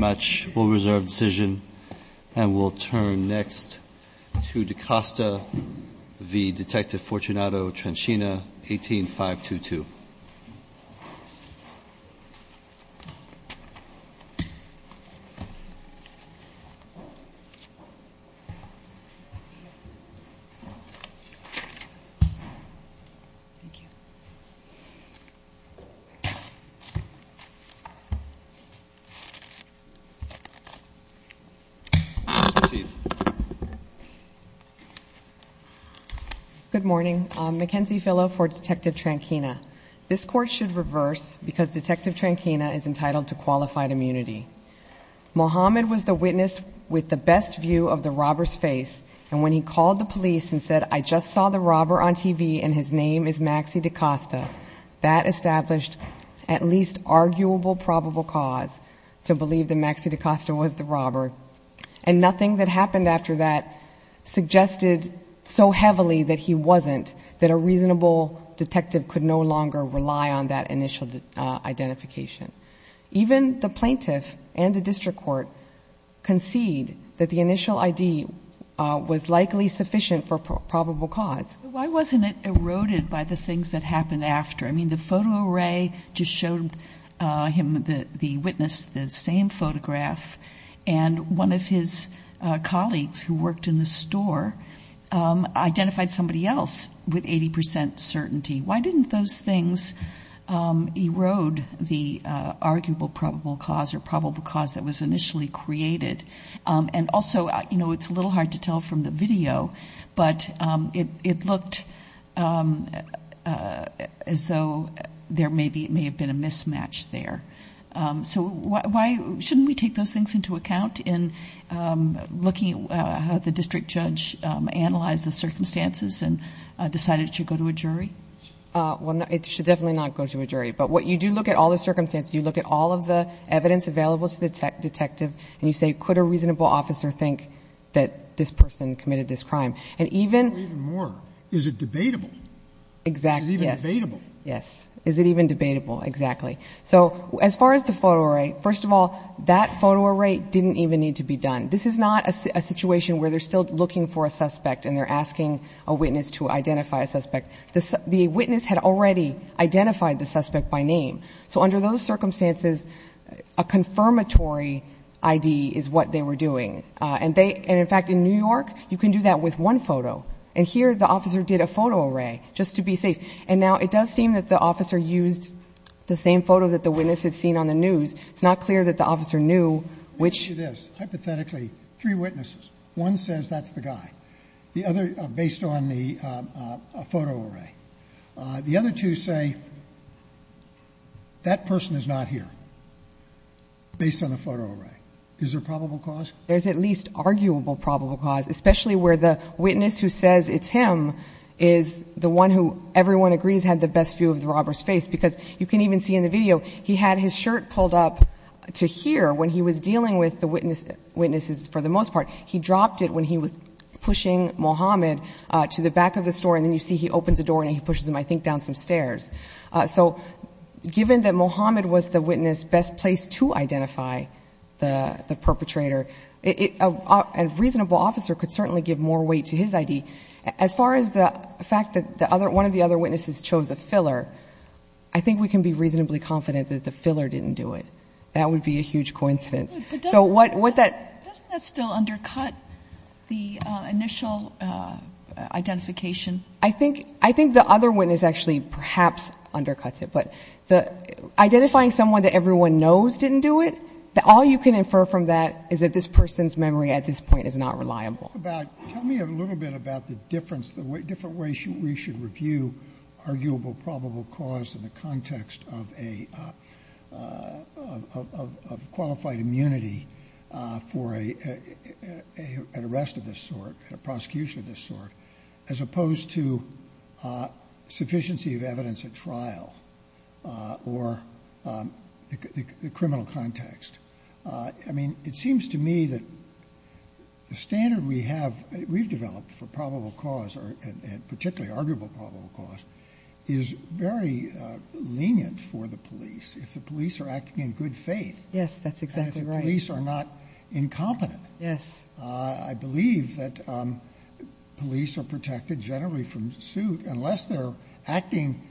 Thank you very much. We'll reserve decision and we'll turn next to DaCosta v. Detective Fortunato Tranchina, 18-522. Good morning. Mackenzie Fillo for Detective Tranchina. This court should reverse because Detective Tranchina is entitled to qualified immunity. Muhammad was the witness with the best view of the robber's face, and when he called the police and said, I just saw the robber on TV and his name is Maxie DaCosta, that established at least arguable probable cause to believe that Maxie DaCosta was the robber. And nothing that happened after that suggested so heavily that he wasn't, that a reasonable detective could no longer rely on that initial identification. Even the plaintiff and the district court concede that the initial ID was likely sufficient for probable cause. Why wasn't it eroded by the things that happened after? I mean, the photo array just showed him, the witness, the same photograph, and one of his colleagues who worked in the store identified somebody else with 80% certainty. Why didn't those things erode the arguable probable cause or probable cause that was initially created? And also, you know, it's a little hard to tell from the video, but it looked as though there may have been a mismatch there. So why, shouldn't we take those things into account in looking at how the district judge analyzed the circumstances and decided it should go to a jury? Well, it should definitely not go to a jury. But what you do look at all the circumstances, you look at all of the evidence available to the detective, and you say, could a reasonable officer think that this person committed this crime? And even more, is it debatable? Exactly. Is it even debatable? Yes. Is it even debatable? Exactly. So as far as the photo array, first of all, that photo array didn't even need to be done. This is not a situation where they're still looking for a suspect and they're asking a witness to identify a suspect. The witness had already identified the suspect by name. So under those circumstances, a confirmatory ID is what they were doing. And in fact, in New York, you can do that with one photo. And here, the officer did a photo array just to be safe. And now it does seem that the officer used the same photo that the witness had seen on the news. It's not clear that the officer knew which. I'll tell you this. Hypothetically, three witnesses, one says that's the guy, the other based on the photo array. The other two say that person is not here based on the photo array. Is there probable cause? There's at least arguable probable cause, especially where the witness who says it's him is the one who everyone agrees had the best view of the robber's face. Because you can even see in the video he had his shirt pulled up to here when he was dealing with the witnesses for the most part. He dropped it when he was pushing Mohammed to the back of the store. And then you see he opens the door and he pushes him, I think, down some stairs. So given that Mohammed was the witness best placed to identify the perpetrator, a reasonable officer could certainly give more weight to his ID. As far as the fact that one of the other witnesses chose a filler, I think we can be reasonably confident that the filler didn't do it. That would be a huge coincidence. So what that — Doesn't that still undercut the initial identification? I think the other witness actually perhaps undercuts it. Identifying someone that everyone knows didn't do it, all you can infer from that is that this person's memory at this point is not reliable. Tell me a little bit about the difference, the different ways we should review arguable probable cause in the context of a qualified immunity for an arrest of this sort, a prosecution of this sort, as opposed to sufficiency of evidence at trial or the criminal context. I mean, it seems to me that the standard we have, we've developed for probable cause and particularly arguable probable cause, is very lenient for the police if the police are acting in good faith. Yes, that's exactly right. And if the police are not incompetent. Yes. I believe that police are protected generally from suit unless they're acting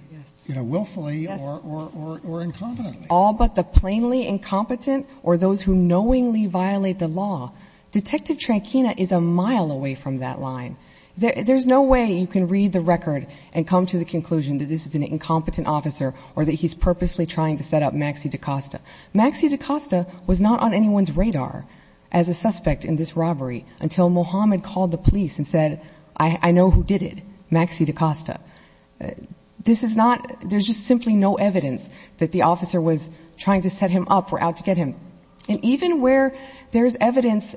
willfully or incompetently. All but the plainly incompetent or those who knowingly violate the law. Detective Tranchina is a mile away from that line. There's no way you can read the record and come to the conclusion that this is an incompetent officer or that he's purposely trying to set up Maxi da Costa. Maxi da Costa was not on anyone's radar as a suspect in this robbery until Mohammed called the police and said, I know who did it. Maxi da Costa. This is not there's just simply no evidence that the officer was trying to set him up or out to get him. And even where there is evidence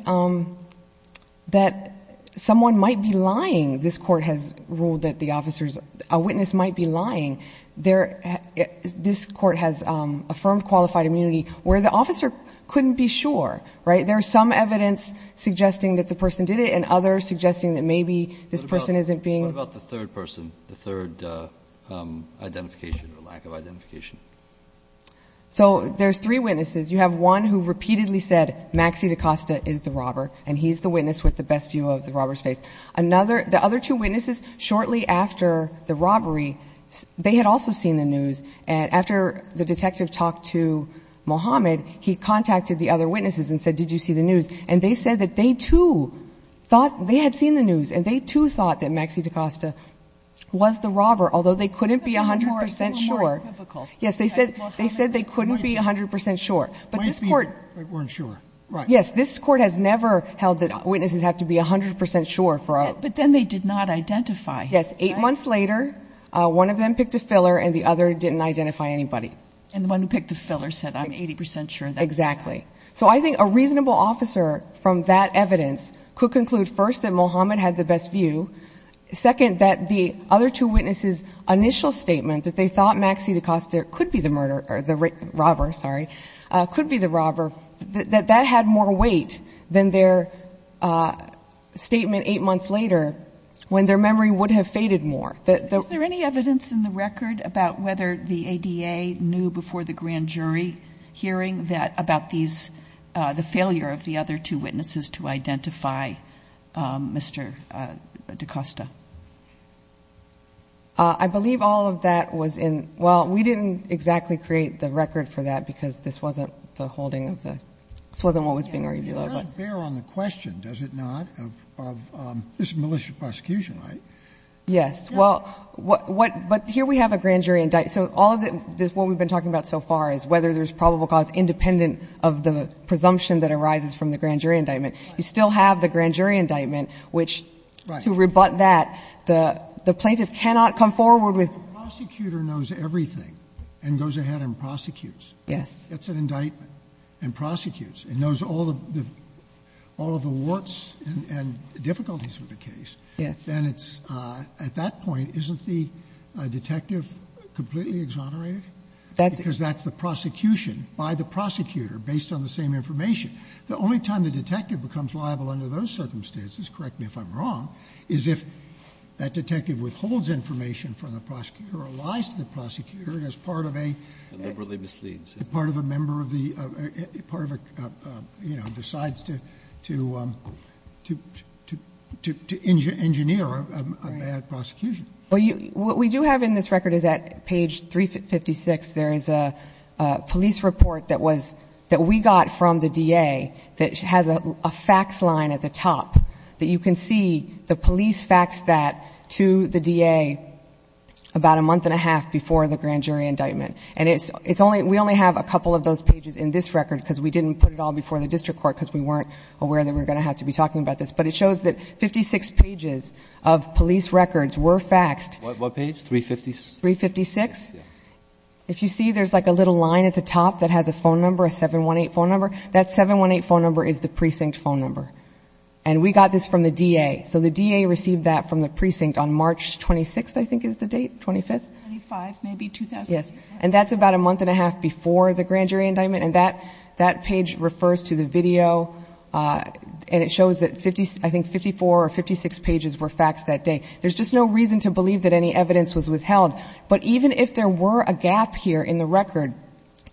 that someone might be lying. This court has ruled that the officers a witness might be lying there. This court has affirmed qualified immunity where the officer couldn't be sure. Right. There's some evidence suggesting that the person did it and others suggesting that maybe this person isn't being about the third person. The third identification or lack of identification. So there's three witnesses. You have one who repeatedly said Maxi da Costa is the robber and he's the witness with the best view of the robber's face. Another the other two witnesses shortly after the robbery. They had also seen the news. And after the detective talked to Mohammed, he contacted the other witnesses and said, did you see the news? And they said that they, too, thought they had seen the news and they, too, thought that Maxi da Costa was the robber, although they couldn't be 100 percent sure. Yes, they said they said they couldn't be 100 percent sure. But this court weren't sure. Yes, this court has never held that witnesses have to be 100 percent sure. But then they did not identify. Yes. Eight months later, one of them picked a filler and the other didn't identify anybody. And the one who picked the filler said, I'm 80 percent sure. Exactly. So I think a reasonable officer from that evidence could conclude, first, that Mohammed had the best view. Second, that the other two witnesses' initial statement that they thought Maxi da Costa could be the murder or the robber, sorry, could be the robber, that that had more weight than their statement eight months later when their memory would have faded more. Is there any evidence in the record about whether the ADA knew before the grand jury hearing that about these, the failure of the other two witnesses to identify Mr. da Costa? I believe all of that was in, well, we didn't exactly create the record for that because this wasn't the holding of the, this wasn't what was being argued. It does bear on the question, does it not, of this malicious prosecution, right? Yes. Well, what, but here we have a grand jury indictment. So all of it, what we've been talking about so far is whether there's probable cause independent of the presumption that arises from the grand jury indictment. You still have the grand jury indictment, which to rebut that, the plaintiff cannot come forward with. If the prosecutor knows everything and goes ahead and prosecutes. Yes. Gets an indictment and prosecutes and knows all of the warts and difficulties with the case. Yes. Then it's, at that point, isn't the detective completely exonerated? Because that's the prosecution by the prosecutor based on the same information. The only time the detective becomes liable under those circumstances, correct me if I'm wrong, is if that detective withholds information from the prosecutor or lies to the prosecutor as part of a... And liberally misleads. Part of a member of the, part of a, you know, decides to, to, to, to, to engineer a bad prosecution. What we do have in this record is at page 356 there is a police report that was, that we got from the DA that has a fax line at the top. That you can see the police faxed that to the DA about a month and a half before the grand jury indictment. And it's, it's only, we only have a couple of those pages in this record because we didn't put it all before the district court because we weren't aware that we were going to have to be talking about this. But it shows that 56 pages of police records were faxed. What page, 356? 356. Yeah. If you see there's like a little line at the top that has a phone number, a 718 phone number. That 718 phone number is the precinct phone number. And we got this from the DA. So the DA received that from the precinct on March 26th I think is the date, 25th? 25, maybe 2000. Yes. And that's about a month and a half before the grand jury indictment. And that, that page refers to the video and it shows that 50, I think 54 or 56 pages were faxed that day. There's just no reason to believe that any evidence was withheld. But even if there were a gap here in the record,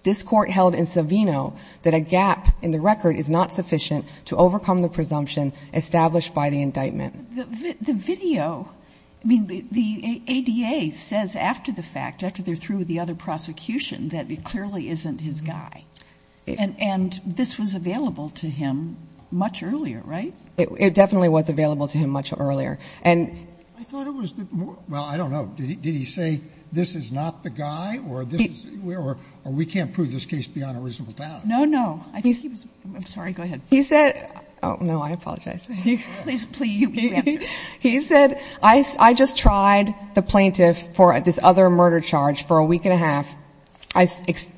this court held in Savino that a gap in the record is not sufficient to overcome the presumption established by the indictment. The video, I mean, the ADA says after the fact, after they're through with the other prosecution, that it clearly isn't his guy. And this was available to him much earlier, right? It definitely was available to him much earlier. I thought it was the, well, I don't know. Did he say this is not the guy or we can't prove this case beyond a reasonable doubt? No, no. I'm sorry, go ahead. He said, oh, no, I apologize. Please, please, you answer. He said, I just tried the plaintiff for this other murder charge for a week and a half. I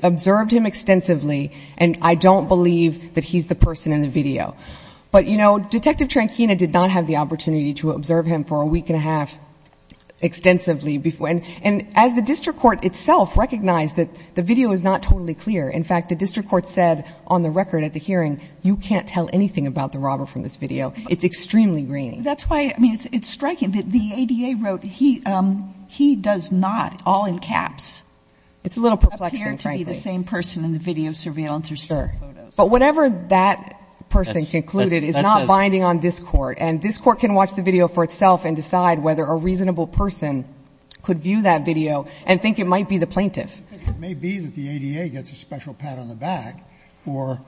observed him extensively and I don't believe that he's the person in the video. But, you know, Detective Tranchina did not have the opportunity to observe him for a week and a half extensively. And as the district court itself recognized that the video is not totally clear. In fact, the district court said on the record at the hearing, you can't tell anything about the robber from this video. It's extremely grainy. That's why, I mean, it's striking that the ADA wrote he does not, all in caps. It's a little perplexing, frankly. Appear to be the same person in the video, surveillance, or stolen photos. But whatever that person concluded is not binding on this Court. And this Court can watch the video for itself and decide whether a reasonable person could view that video and think it might be the plaintiff. It may be that the ADA gets a special pat on the back for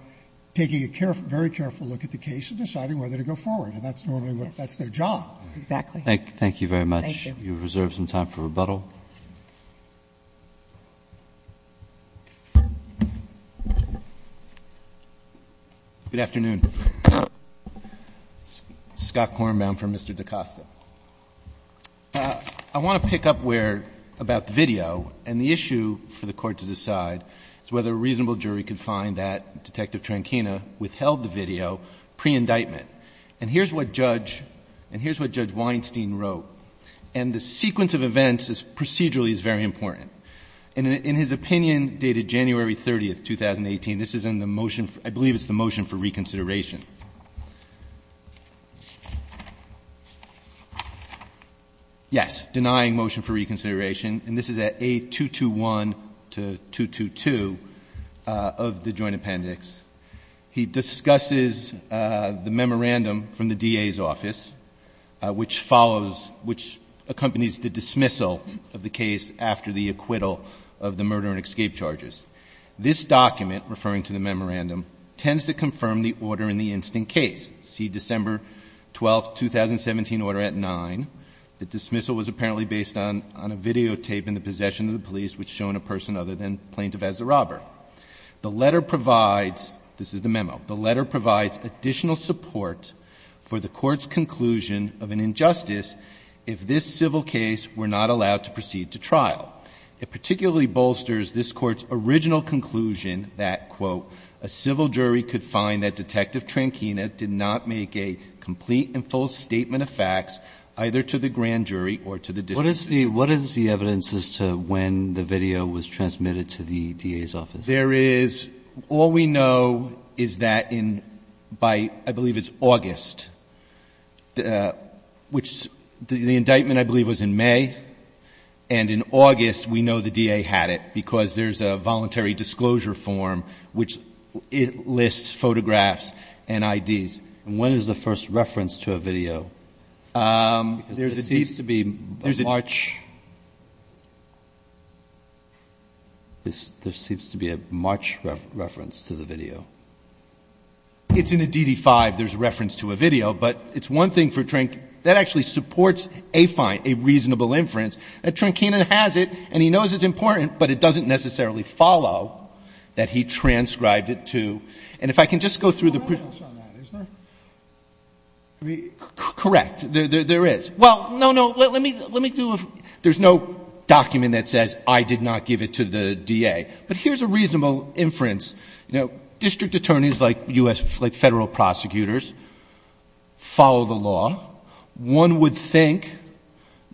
taking a careful, very careful look at the case and deciding whether to go forward. And that's normally what, that's their job. Exactly. Thank you very much. Thank you. You have reserved some time for rebuttal. Good afternoon. Scott Kornbaum for Mr. DaCosta. I want to pick up where, about the video. And the issue for the Court to decide is whether a reasonable jury could find that Detective Tranchina withheld the video pre-indictment. And here's what Judge, and here's what Judge Weinstein wrote. And the sequence of events procedurally is very important. In his opinion dated January 30, 2018, this is in the motion, I believe it's the motion for reconsideration. Yes. Denying motion for reconsideration. And this is at A221 to 222 of the joint appendix. He discusses the memorandum from the DA's office, which follows, which accompanies the dismissal of the case after the acquittal of the murder and escape charges. This document, referring to the memorandum, tends to confirm the order in the instant case. See December 12, 2017 order at 9. The dismissal was apparently based on a videotape in the possession of the police which shown a person other than plaintiff as the robber. The letter provides, this is the memo. The letter provides additional support for the Court's conclusion of an injustice if this civil case were not allowed to proceed to trial. It particularly bolsters this Court's original conclusion that, quote, a civil jury could find that Detective Tranchina did not make a complete and full statement of facts either to the grand jury or to the district jury. What is the evidence as to when the video was transmitted to the DA's office? There is, all we know is that in, by, I believe it's August, which the indictment I believe was in May, and in August we know the DA had it because there's a voluntary disclosure form which lists photographs and IDs. And when is the first reference to a video? There seems to be a March, there seems to be a March reference to the video. It's in a DD-5, there's a reference to a video, but it's one thing for, that actually supports a reasonable inference. Tranchina has it and he knows it's important, but it doesn't necessarily follow that he transcribed it to. And if I can just go through the. Correct, there is. Well, no, no, let me do a, there's no document that says I did not give it to the DA. But here's a reasonable inference, you know, district attorneys like U.S., like Federal prosecutors follow the law. One would think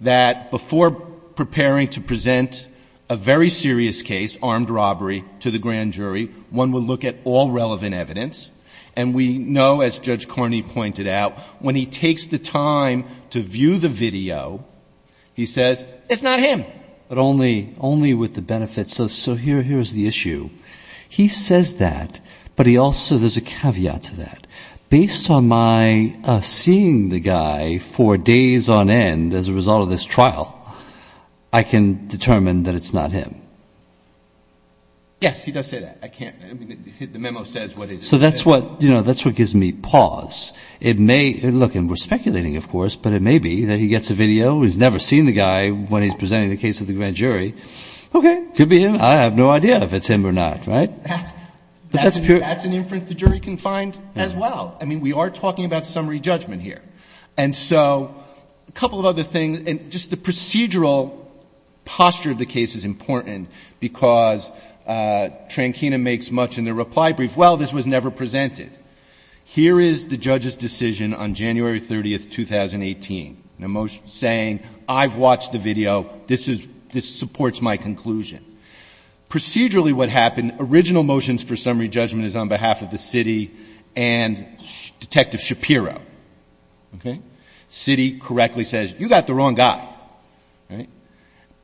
that before preparing to present a very serious case, armed robbery, to the grand jury, one would look at all relevant evidence. And we know, as Judge Carney pointed out, when he takes the time to view the video, he says, it's not him. But only, only with the benefits of, so here, here's the issue. He says that, but he also, there's a caveat to that. Based on my seeing the guy for days on end as a result of this trial, I can determine that it's not him. Yes, he does say that. I can't, I mean, the memo says what it says. So that's what, you know, that's what gives me pause. It may, look, and we're speculating, of course, but it may be that he gets a video, he's never seen the guy when he's presenting the case to the grand jury. Okay, could be him. I have no idea if it's him or not, right? That's an inference the jury can find as well. I mean, we are talking about summary judgment here. And so a couple of other things, and just the procedural posture of the case is important because Trankina makes much in the reply brief, well, this was never presented. Here is the judge's decision on January 30th, 2018, and a motion saying, I've watched the video. This is, this supports my conclusion. Procedurally what happened, original motions for summary judgment is on behalf of the city and Detective Shapiro, okay? City correctly says, you got the wrong guy, right?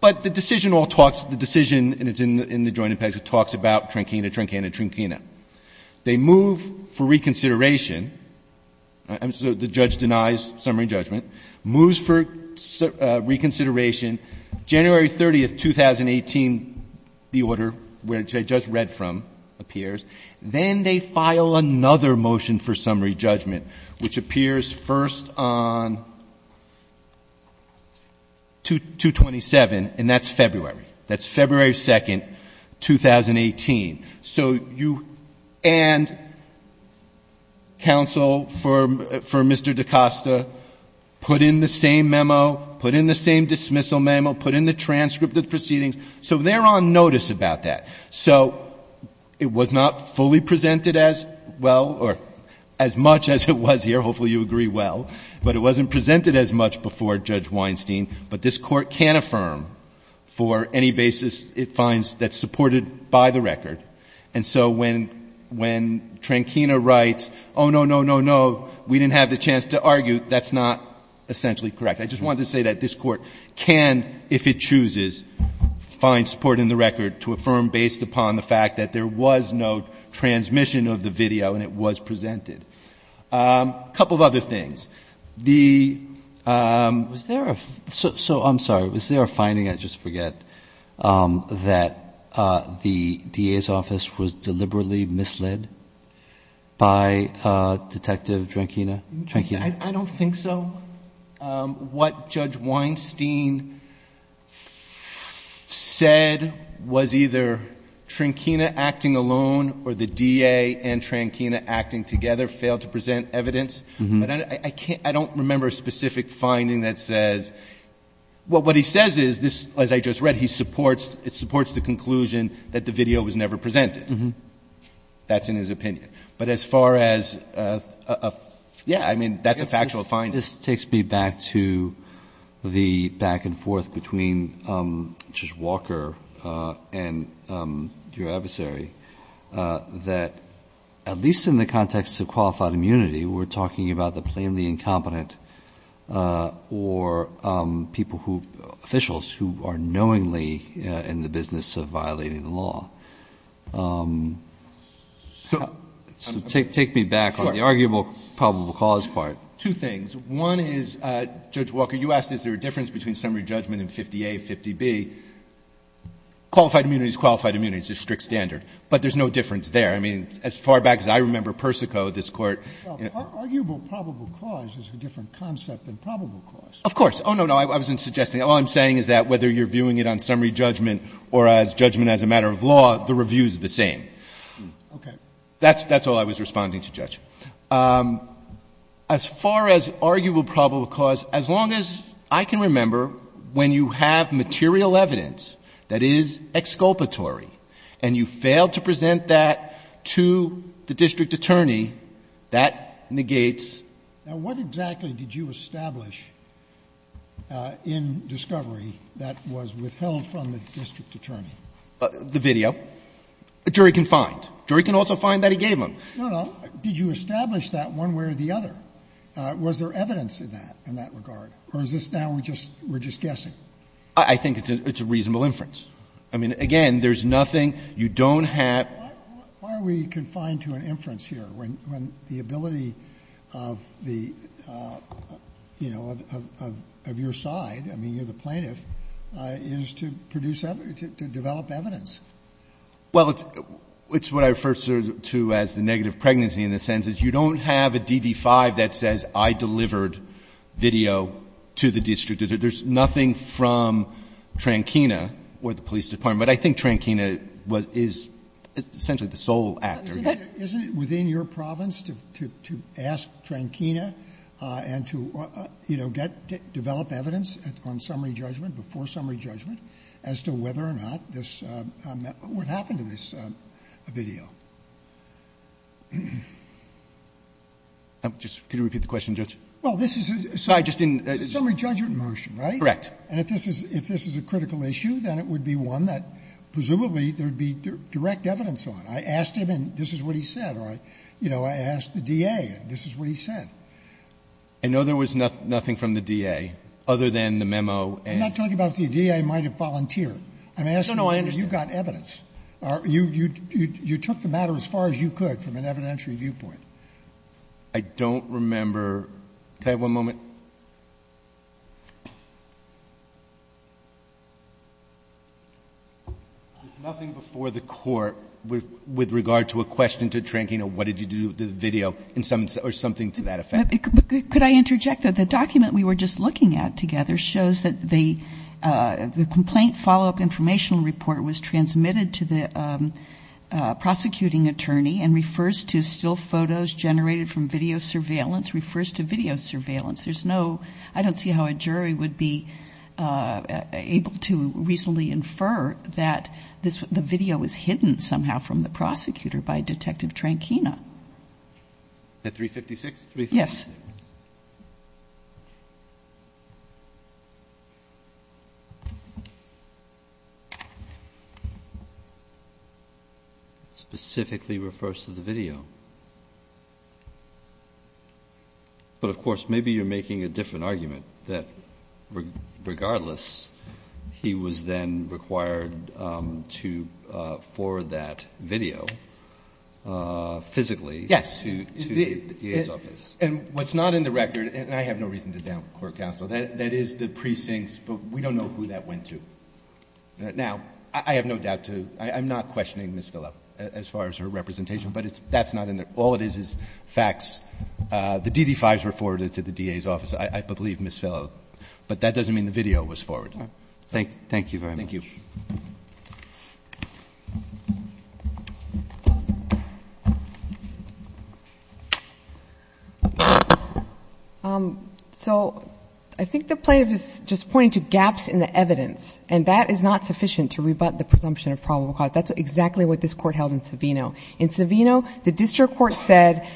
But the decision all talks, the decision, and it's in the joint impacts, it talks about Trankina, Trankina, Trankina. They move for reconsideration, and so the judge denies summary judgment, moves for reconsideration. January 30th, 2018, the order which I just read from appears. Then they file another motion for summary judgment, which appears first on 227, and that's February. That's February 2nd, 2018. So you, and counsel for Mr. DaCosta put in the same memo, put in the same dismissal memo, put in the transcript of the proceedings, so they're on notice about that. So it was not fully presented as well, or as much as it was here, hopefully you agree well, but it wasn't presented as much before Judge Weinstein. But this Court can affirm for any basis it finds that's supported by the record. And so when Trankina writes, oh, no, no, no, no, we didn't have the chance to argue, that's not essentially correct. I just wanted to say that this Court can, if it chooses, find support in the record to affirm based upon the fact that there was no transmission of the video, and it was presented. A couple of other things. The, was there a, so I'm sorry, was there a finding, I just forget, that the DA's office was deliberately misled by Detective Trankina? I don't think so. What Judge Weinstein said was either Trankina acting alone or the DA and Trankina acting together, failed to present evidence. But I can't, I don't remember a specific finding that says, well, what he says is, this, as I just read, he supports, it supports the conclusion that the video was never presented. That's in his opinion. But as far as, yeah, I mean, that's a factual finding. This takes me back to the back and forth between Judge Walker and your adversary, that at least in the context of qualified immunity, we're talking about the fact that we're talking about the plainly incompetent or people who, officials who are knowingly in the business of violating the law. So take me back on the arguable probable cause part. Two things. One is, Judge Walker, you asked is there a difference between summary judgment in 50A, 50B. Qualified immunity is qualified immunity. It's a strict standard. But there's no difference there. I mean, as far back as I remember, Persico, this Court. Sotomayor, arguable probable cause is a different concept than probable cause. Of course. Oh, no, no, I wasn't suggesting. All I'm saying is that whether you're viewing it on summary judgment or as judgment as a matter of law, the review is the same. Okay. That's all I was responding to, Judge. As far as arguable probable cause, as long as I can remember, when you have material evidence that is exculpatory and you fail to present that to the district attorney, that negates. Now, what exactly did you establish in discovery that was withheld from the district attorney? The video. A jury can find. A jury can also find that he gave them. No, no. Did you establish that one way or the other? Was there evidence in that, in that regard? Or is this now we're just guessing? I think it's a reasonable inference. I mean, again, there's nothing. You don't have. Why are we confined to an inference here when the ability of the, you know, of your side, I mean, you're the plaintiff, is to produce evidence, to develop evidence? Well, it's what I refer to as the negative pregnancy in the sense that you don't have a DD-5 that says I delivered video to the district. There's nothing from Trankina or the police department. But I think Trankina is essentially the sole actor. Isn't it within your province to ask Trankina and to, you know, develop evidence on summary judgment, before summary judgment, as to whether or not this would happen to this video? Could you repeat the question, Judge? Well, this is a summary judgment motion. Correct. And if this is a critical issue, then it would be one that presumably there would be direct evidence on. I asked him, and this is what he said. Or, you know, I asked the DA, and this is what he said. I know there was nothing from the DA, other than the memo. I'm not talking about the DA might have volunteered. I'm asking whether you got evidence. No, no, I understand. You took the matter as far as you could from an evidentiary viewpoint. I don't remember. Could I have one moment? Thank you. There's nothing before the court with regard to a question to Trankina, what did you do with the video, or something to that effect. Could I interject that the document we were just looking at together shows that the complaint follow-up informational report was transmitted to the prosecuting attorney and refers to still photos generated from video surveillance, refers to video surveillance. There's no, I don't see how a jury would be able to reasonably infer that the video was hidden somehow from the prosecutor by Detective Trankina. The 356? Yes. Specifically refers to the video. But, of course, maybe you're making a different argument, that regardless, he was then required to forward that video physically to the DA's office. And what's not in the record, and I have no reason to down court counsel, that is the precincts, but we don't know who that went to. Now, I have no doubt to, I'm not questioning Ms. Phillip as far as her representation, but that's not in there. All it is is facts. The DD-5s were forwarded to the DA's office, I believe Ms. Phillip, but that doesn't mean the video was forwarded. Thank you very much. Thank you. Ms. Lynch. So I think the plaintiff is just pointing to gaps in the evidence, and that is not sufficient to rebut the presumption of probable cause. That's exactly what this Court held in Savino. In Savino, the district court said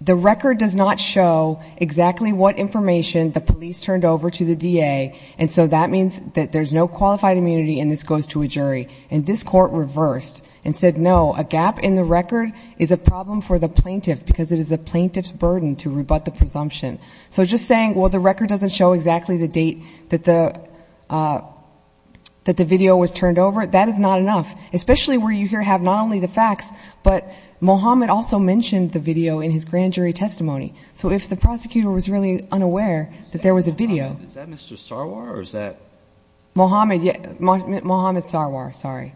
the record does not show exactly what information the police turned over to the DA, and so that means that there's no qualified immunity and this goes to a jury. And this Court reversed and said, no, a gap in the record is a problem for the plaintiff because it is the plaintiff's burden to rebut the presumption. So just saying, well, the record doesn't show exactly the date that the video was turned over, that is not enough, especially where you here have not only the facts, but Mohammed also mentioned the video in his grand jury testimony. So if the prosecutor was really unaware that there was a video. Is that Mr. Sarwar or is that? Mohammed Sarwar, sorry.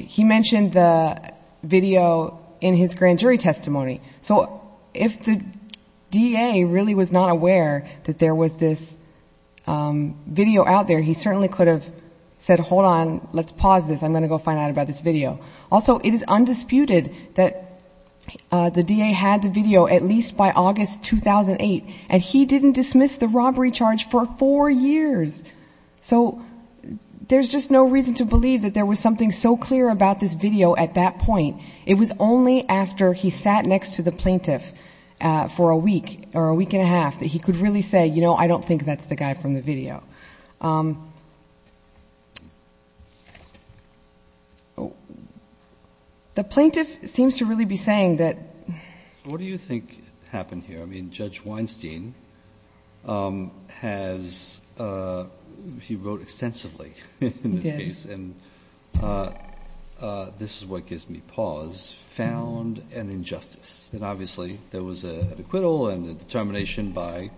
He mentioned the video in his grand jury testimony. So if the DA really was not aware that there was this video out there, he certainly could have said, hold on, let's pause this. I'm going to go find out about this video. Also, it is undisputed that the DA had the video at least by August 2008, and he didn't dismiss the robbery charge for four years. So there's just no reason to believe that there was something so clear about this video at that point. It was only after he sat next to the plaintiff for a week or a week and a half that he could really say, you know, I don't think that's the guy from the video. The plaintiff seems to really be saying that. What do you think happened here? I mean, Judge Weinstein has, he wrote extensively in this case. He did. And this is what gives me pause. Found an injustice. And obviously there was an acquittal and a determination by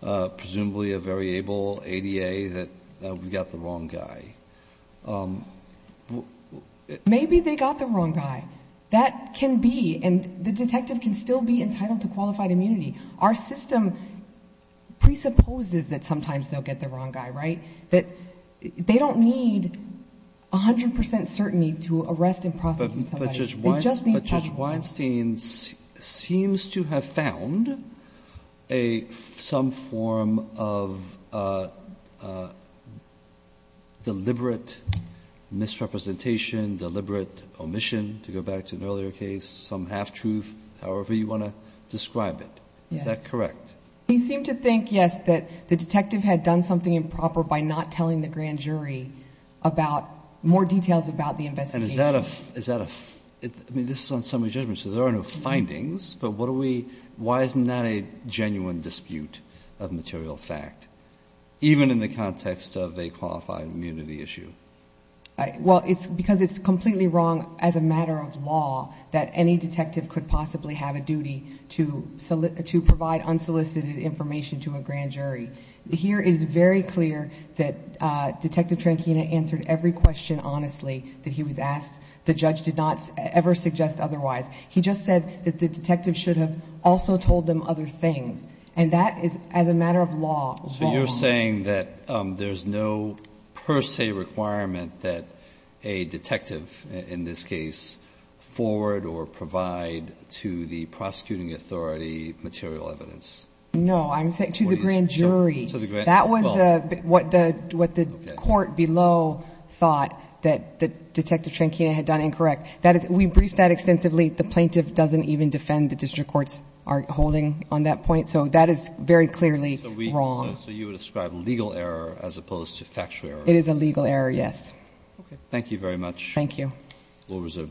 presumably a very able ADA that we got the wrong guy. Maybe they got the wrong guy. That can be, and the detective can still be entitled to qualified immunity. Our system presupposes that sometimes they'll get the wrong guy, right? That they don't need 100% certainty to arrest and prosecute somebody. But Judge Weinstein seems to have found some form of deliberate misrepresentation, deliberate omission, to go back to an earlier case, some half-truth, however you want to describe it. Is that correct? He seemed to think, yes, that the detective had done something improper by not telling the grand jury about more details about the investigation. And is that a, is that a, I mean, this is on summary judgment, so there are no findings, but what do we, why isn't that a genuine dispute of material fact, even in the context of a qualified immunity issue? Well, it's because it's completely wrong as a matter of law that any detective could possibly have a duty to provide unsolicited information to a grand jury. Here is very clear that Detective Tranchina answered every question honestly that he was asked. The judge did not ever suggest otherwise. He just said that the detective should have also told them other things. And that is, as a matter of law, wrong. So you're saying that there's no per se requirement that a detective, in this case, forward or provide to the prosecuting authority material evidence? No, I'm saying to the grand jury. That was what the court below thought that Detective Tranchina had done incorrect. That is, we briefed that extensively. The plaintiff doesn't even defend the district courts are holding on that point. So that is very clearly wrong. So you would describe legal error as opposed to factual error? It is a legal error, yes. Thank you very much. Thank you. We'll reserve the decision.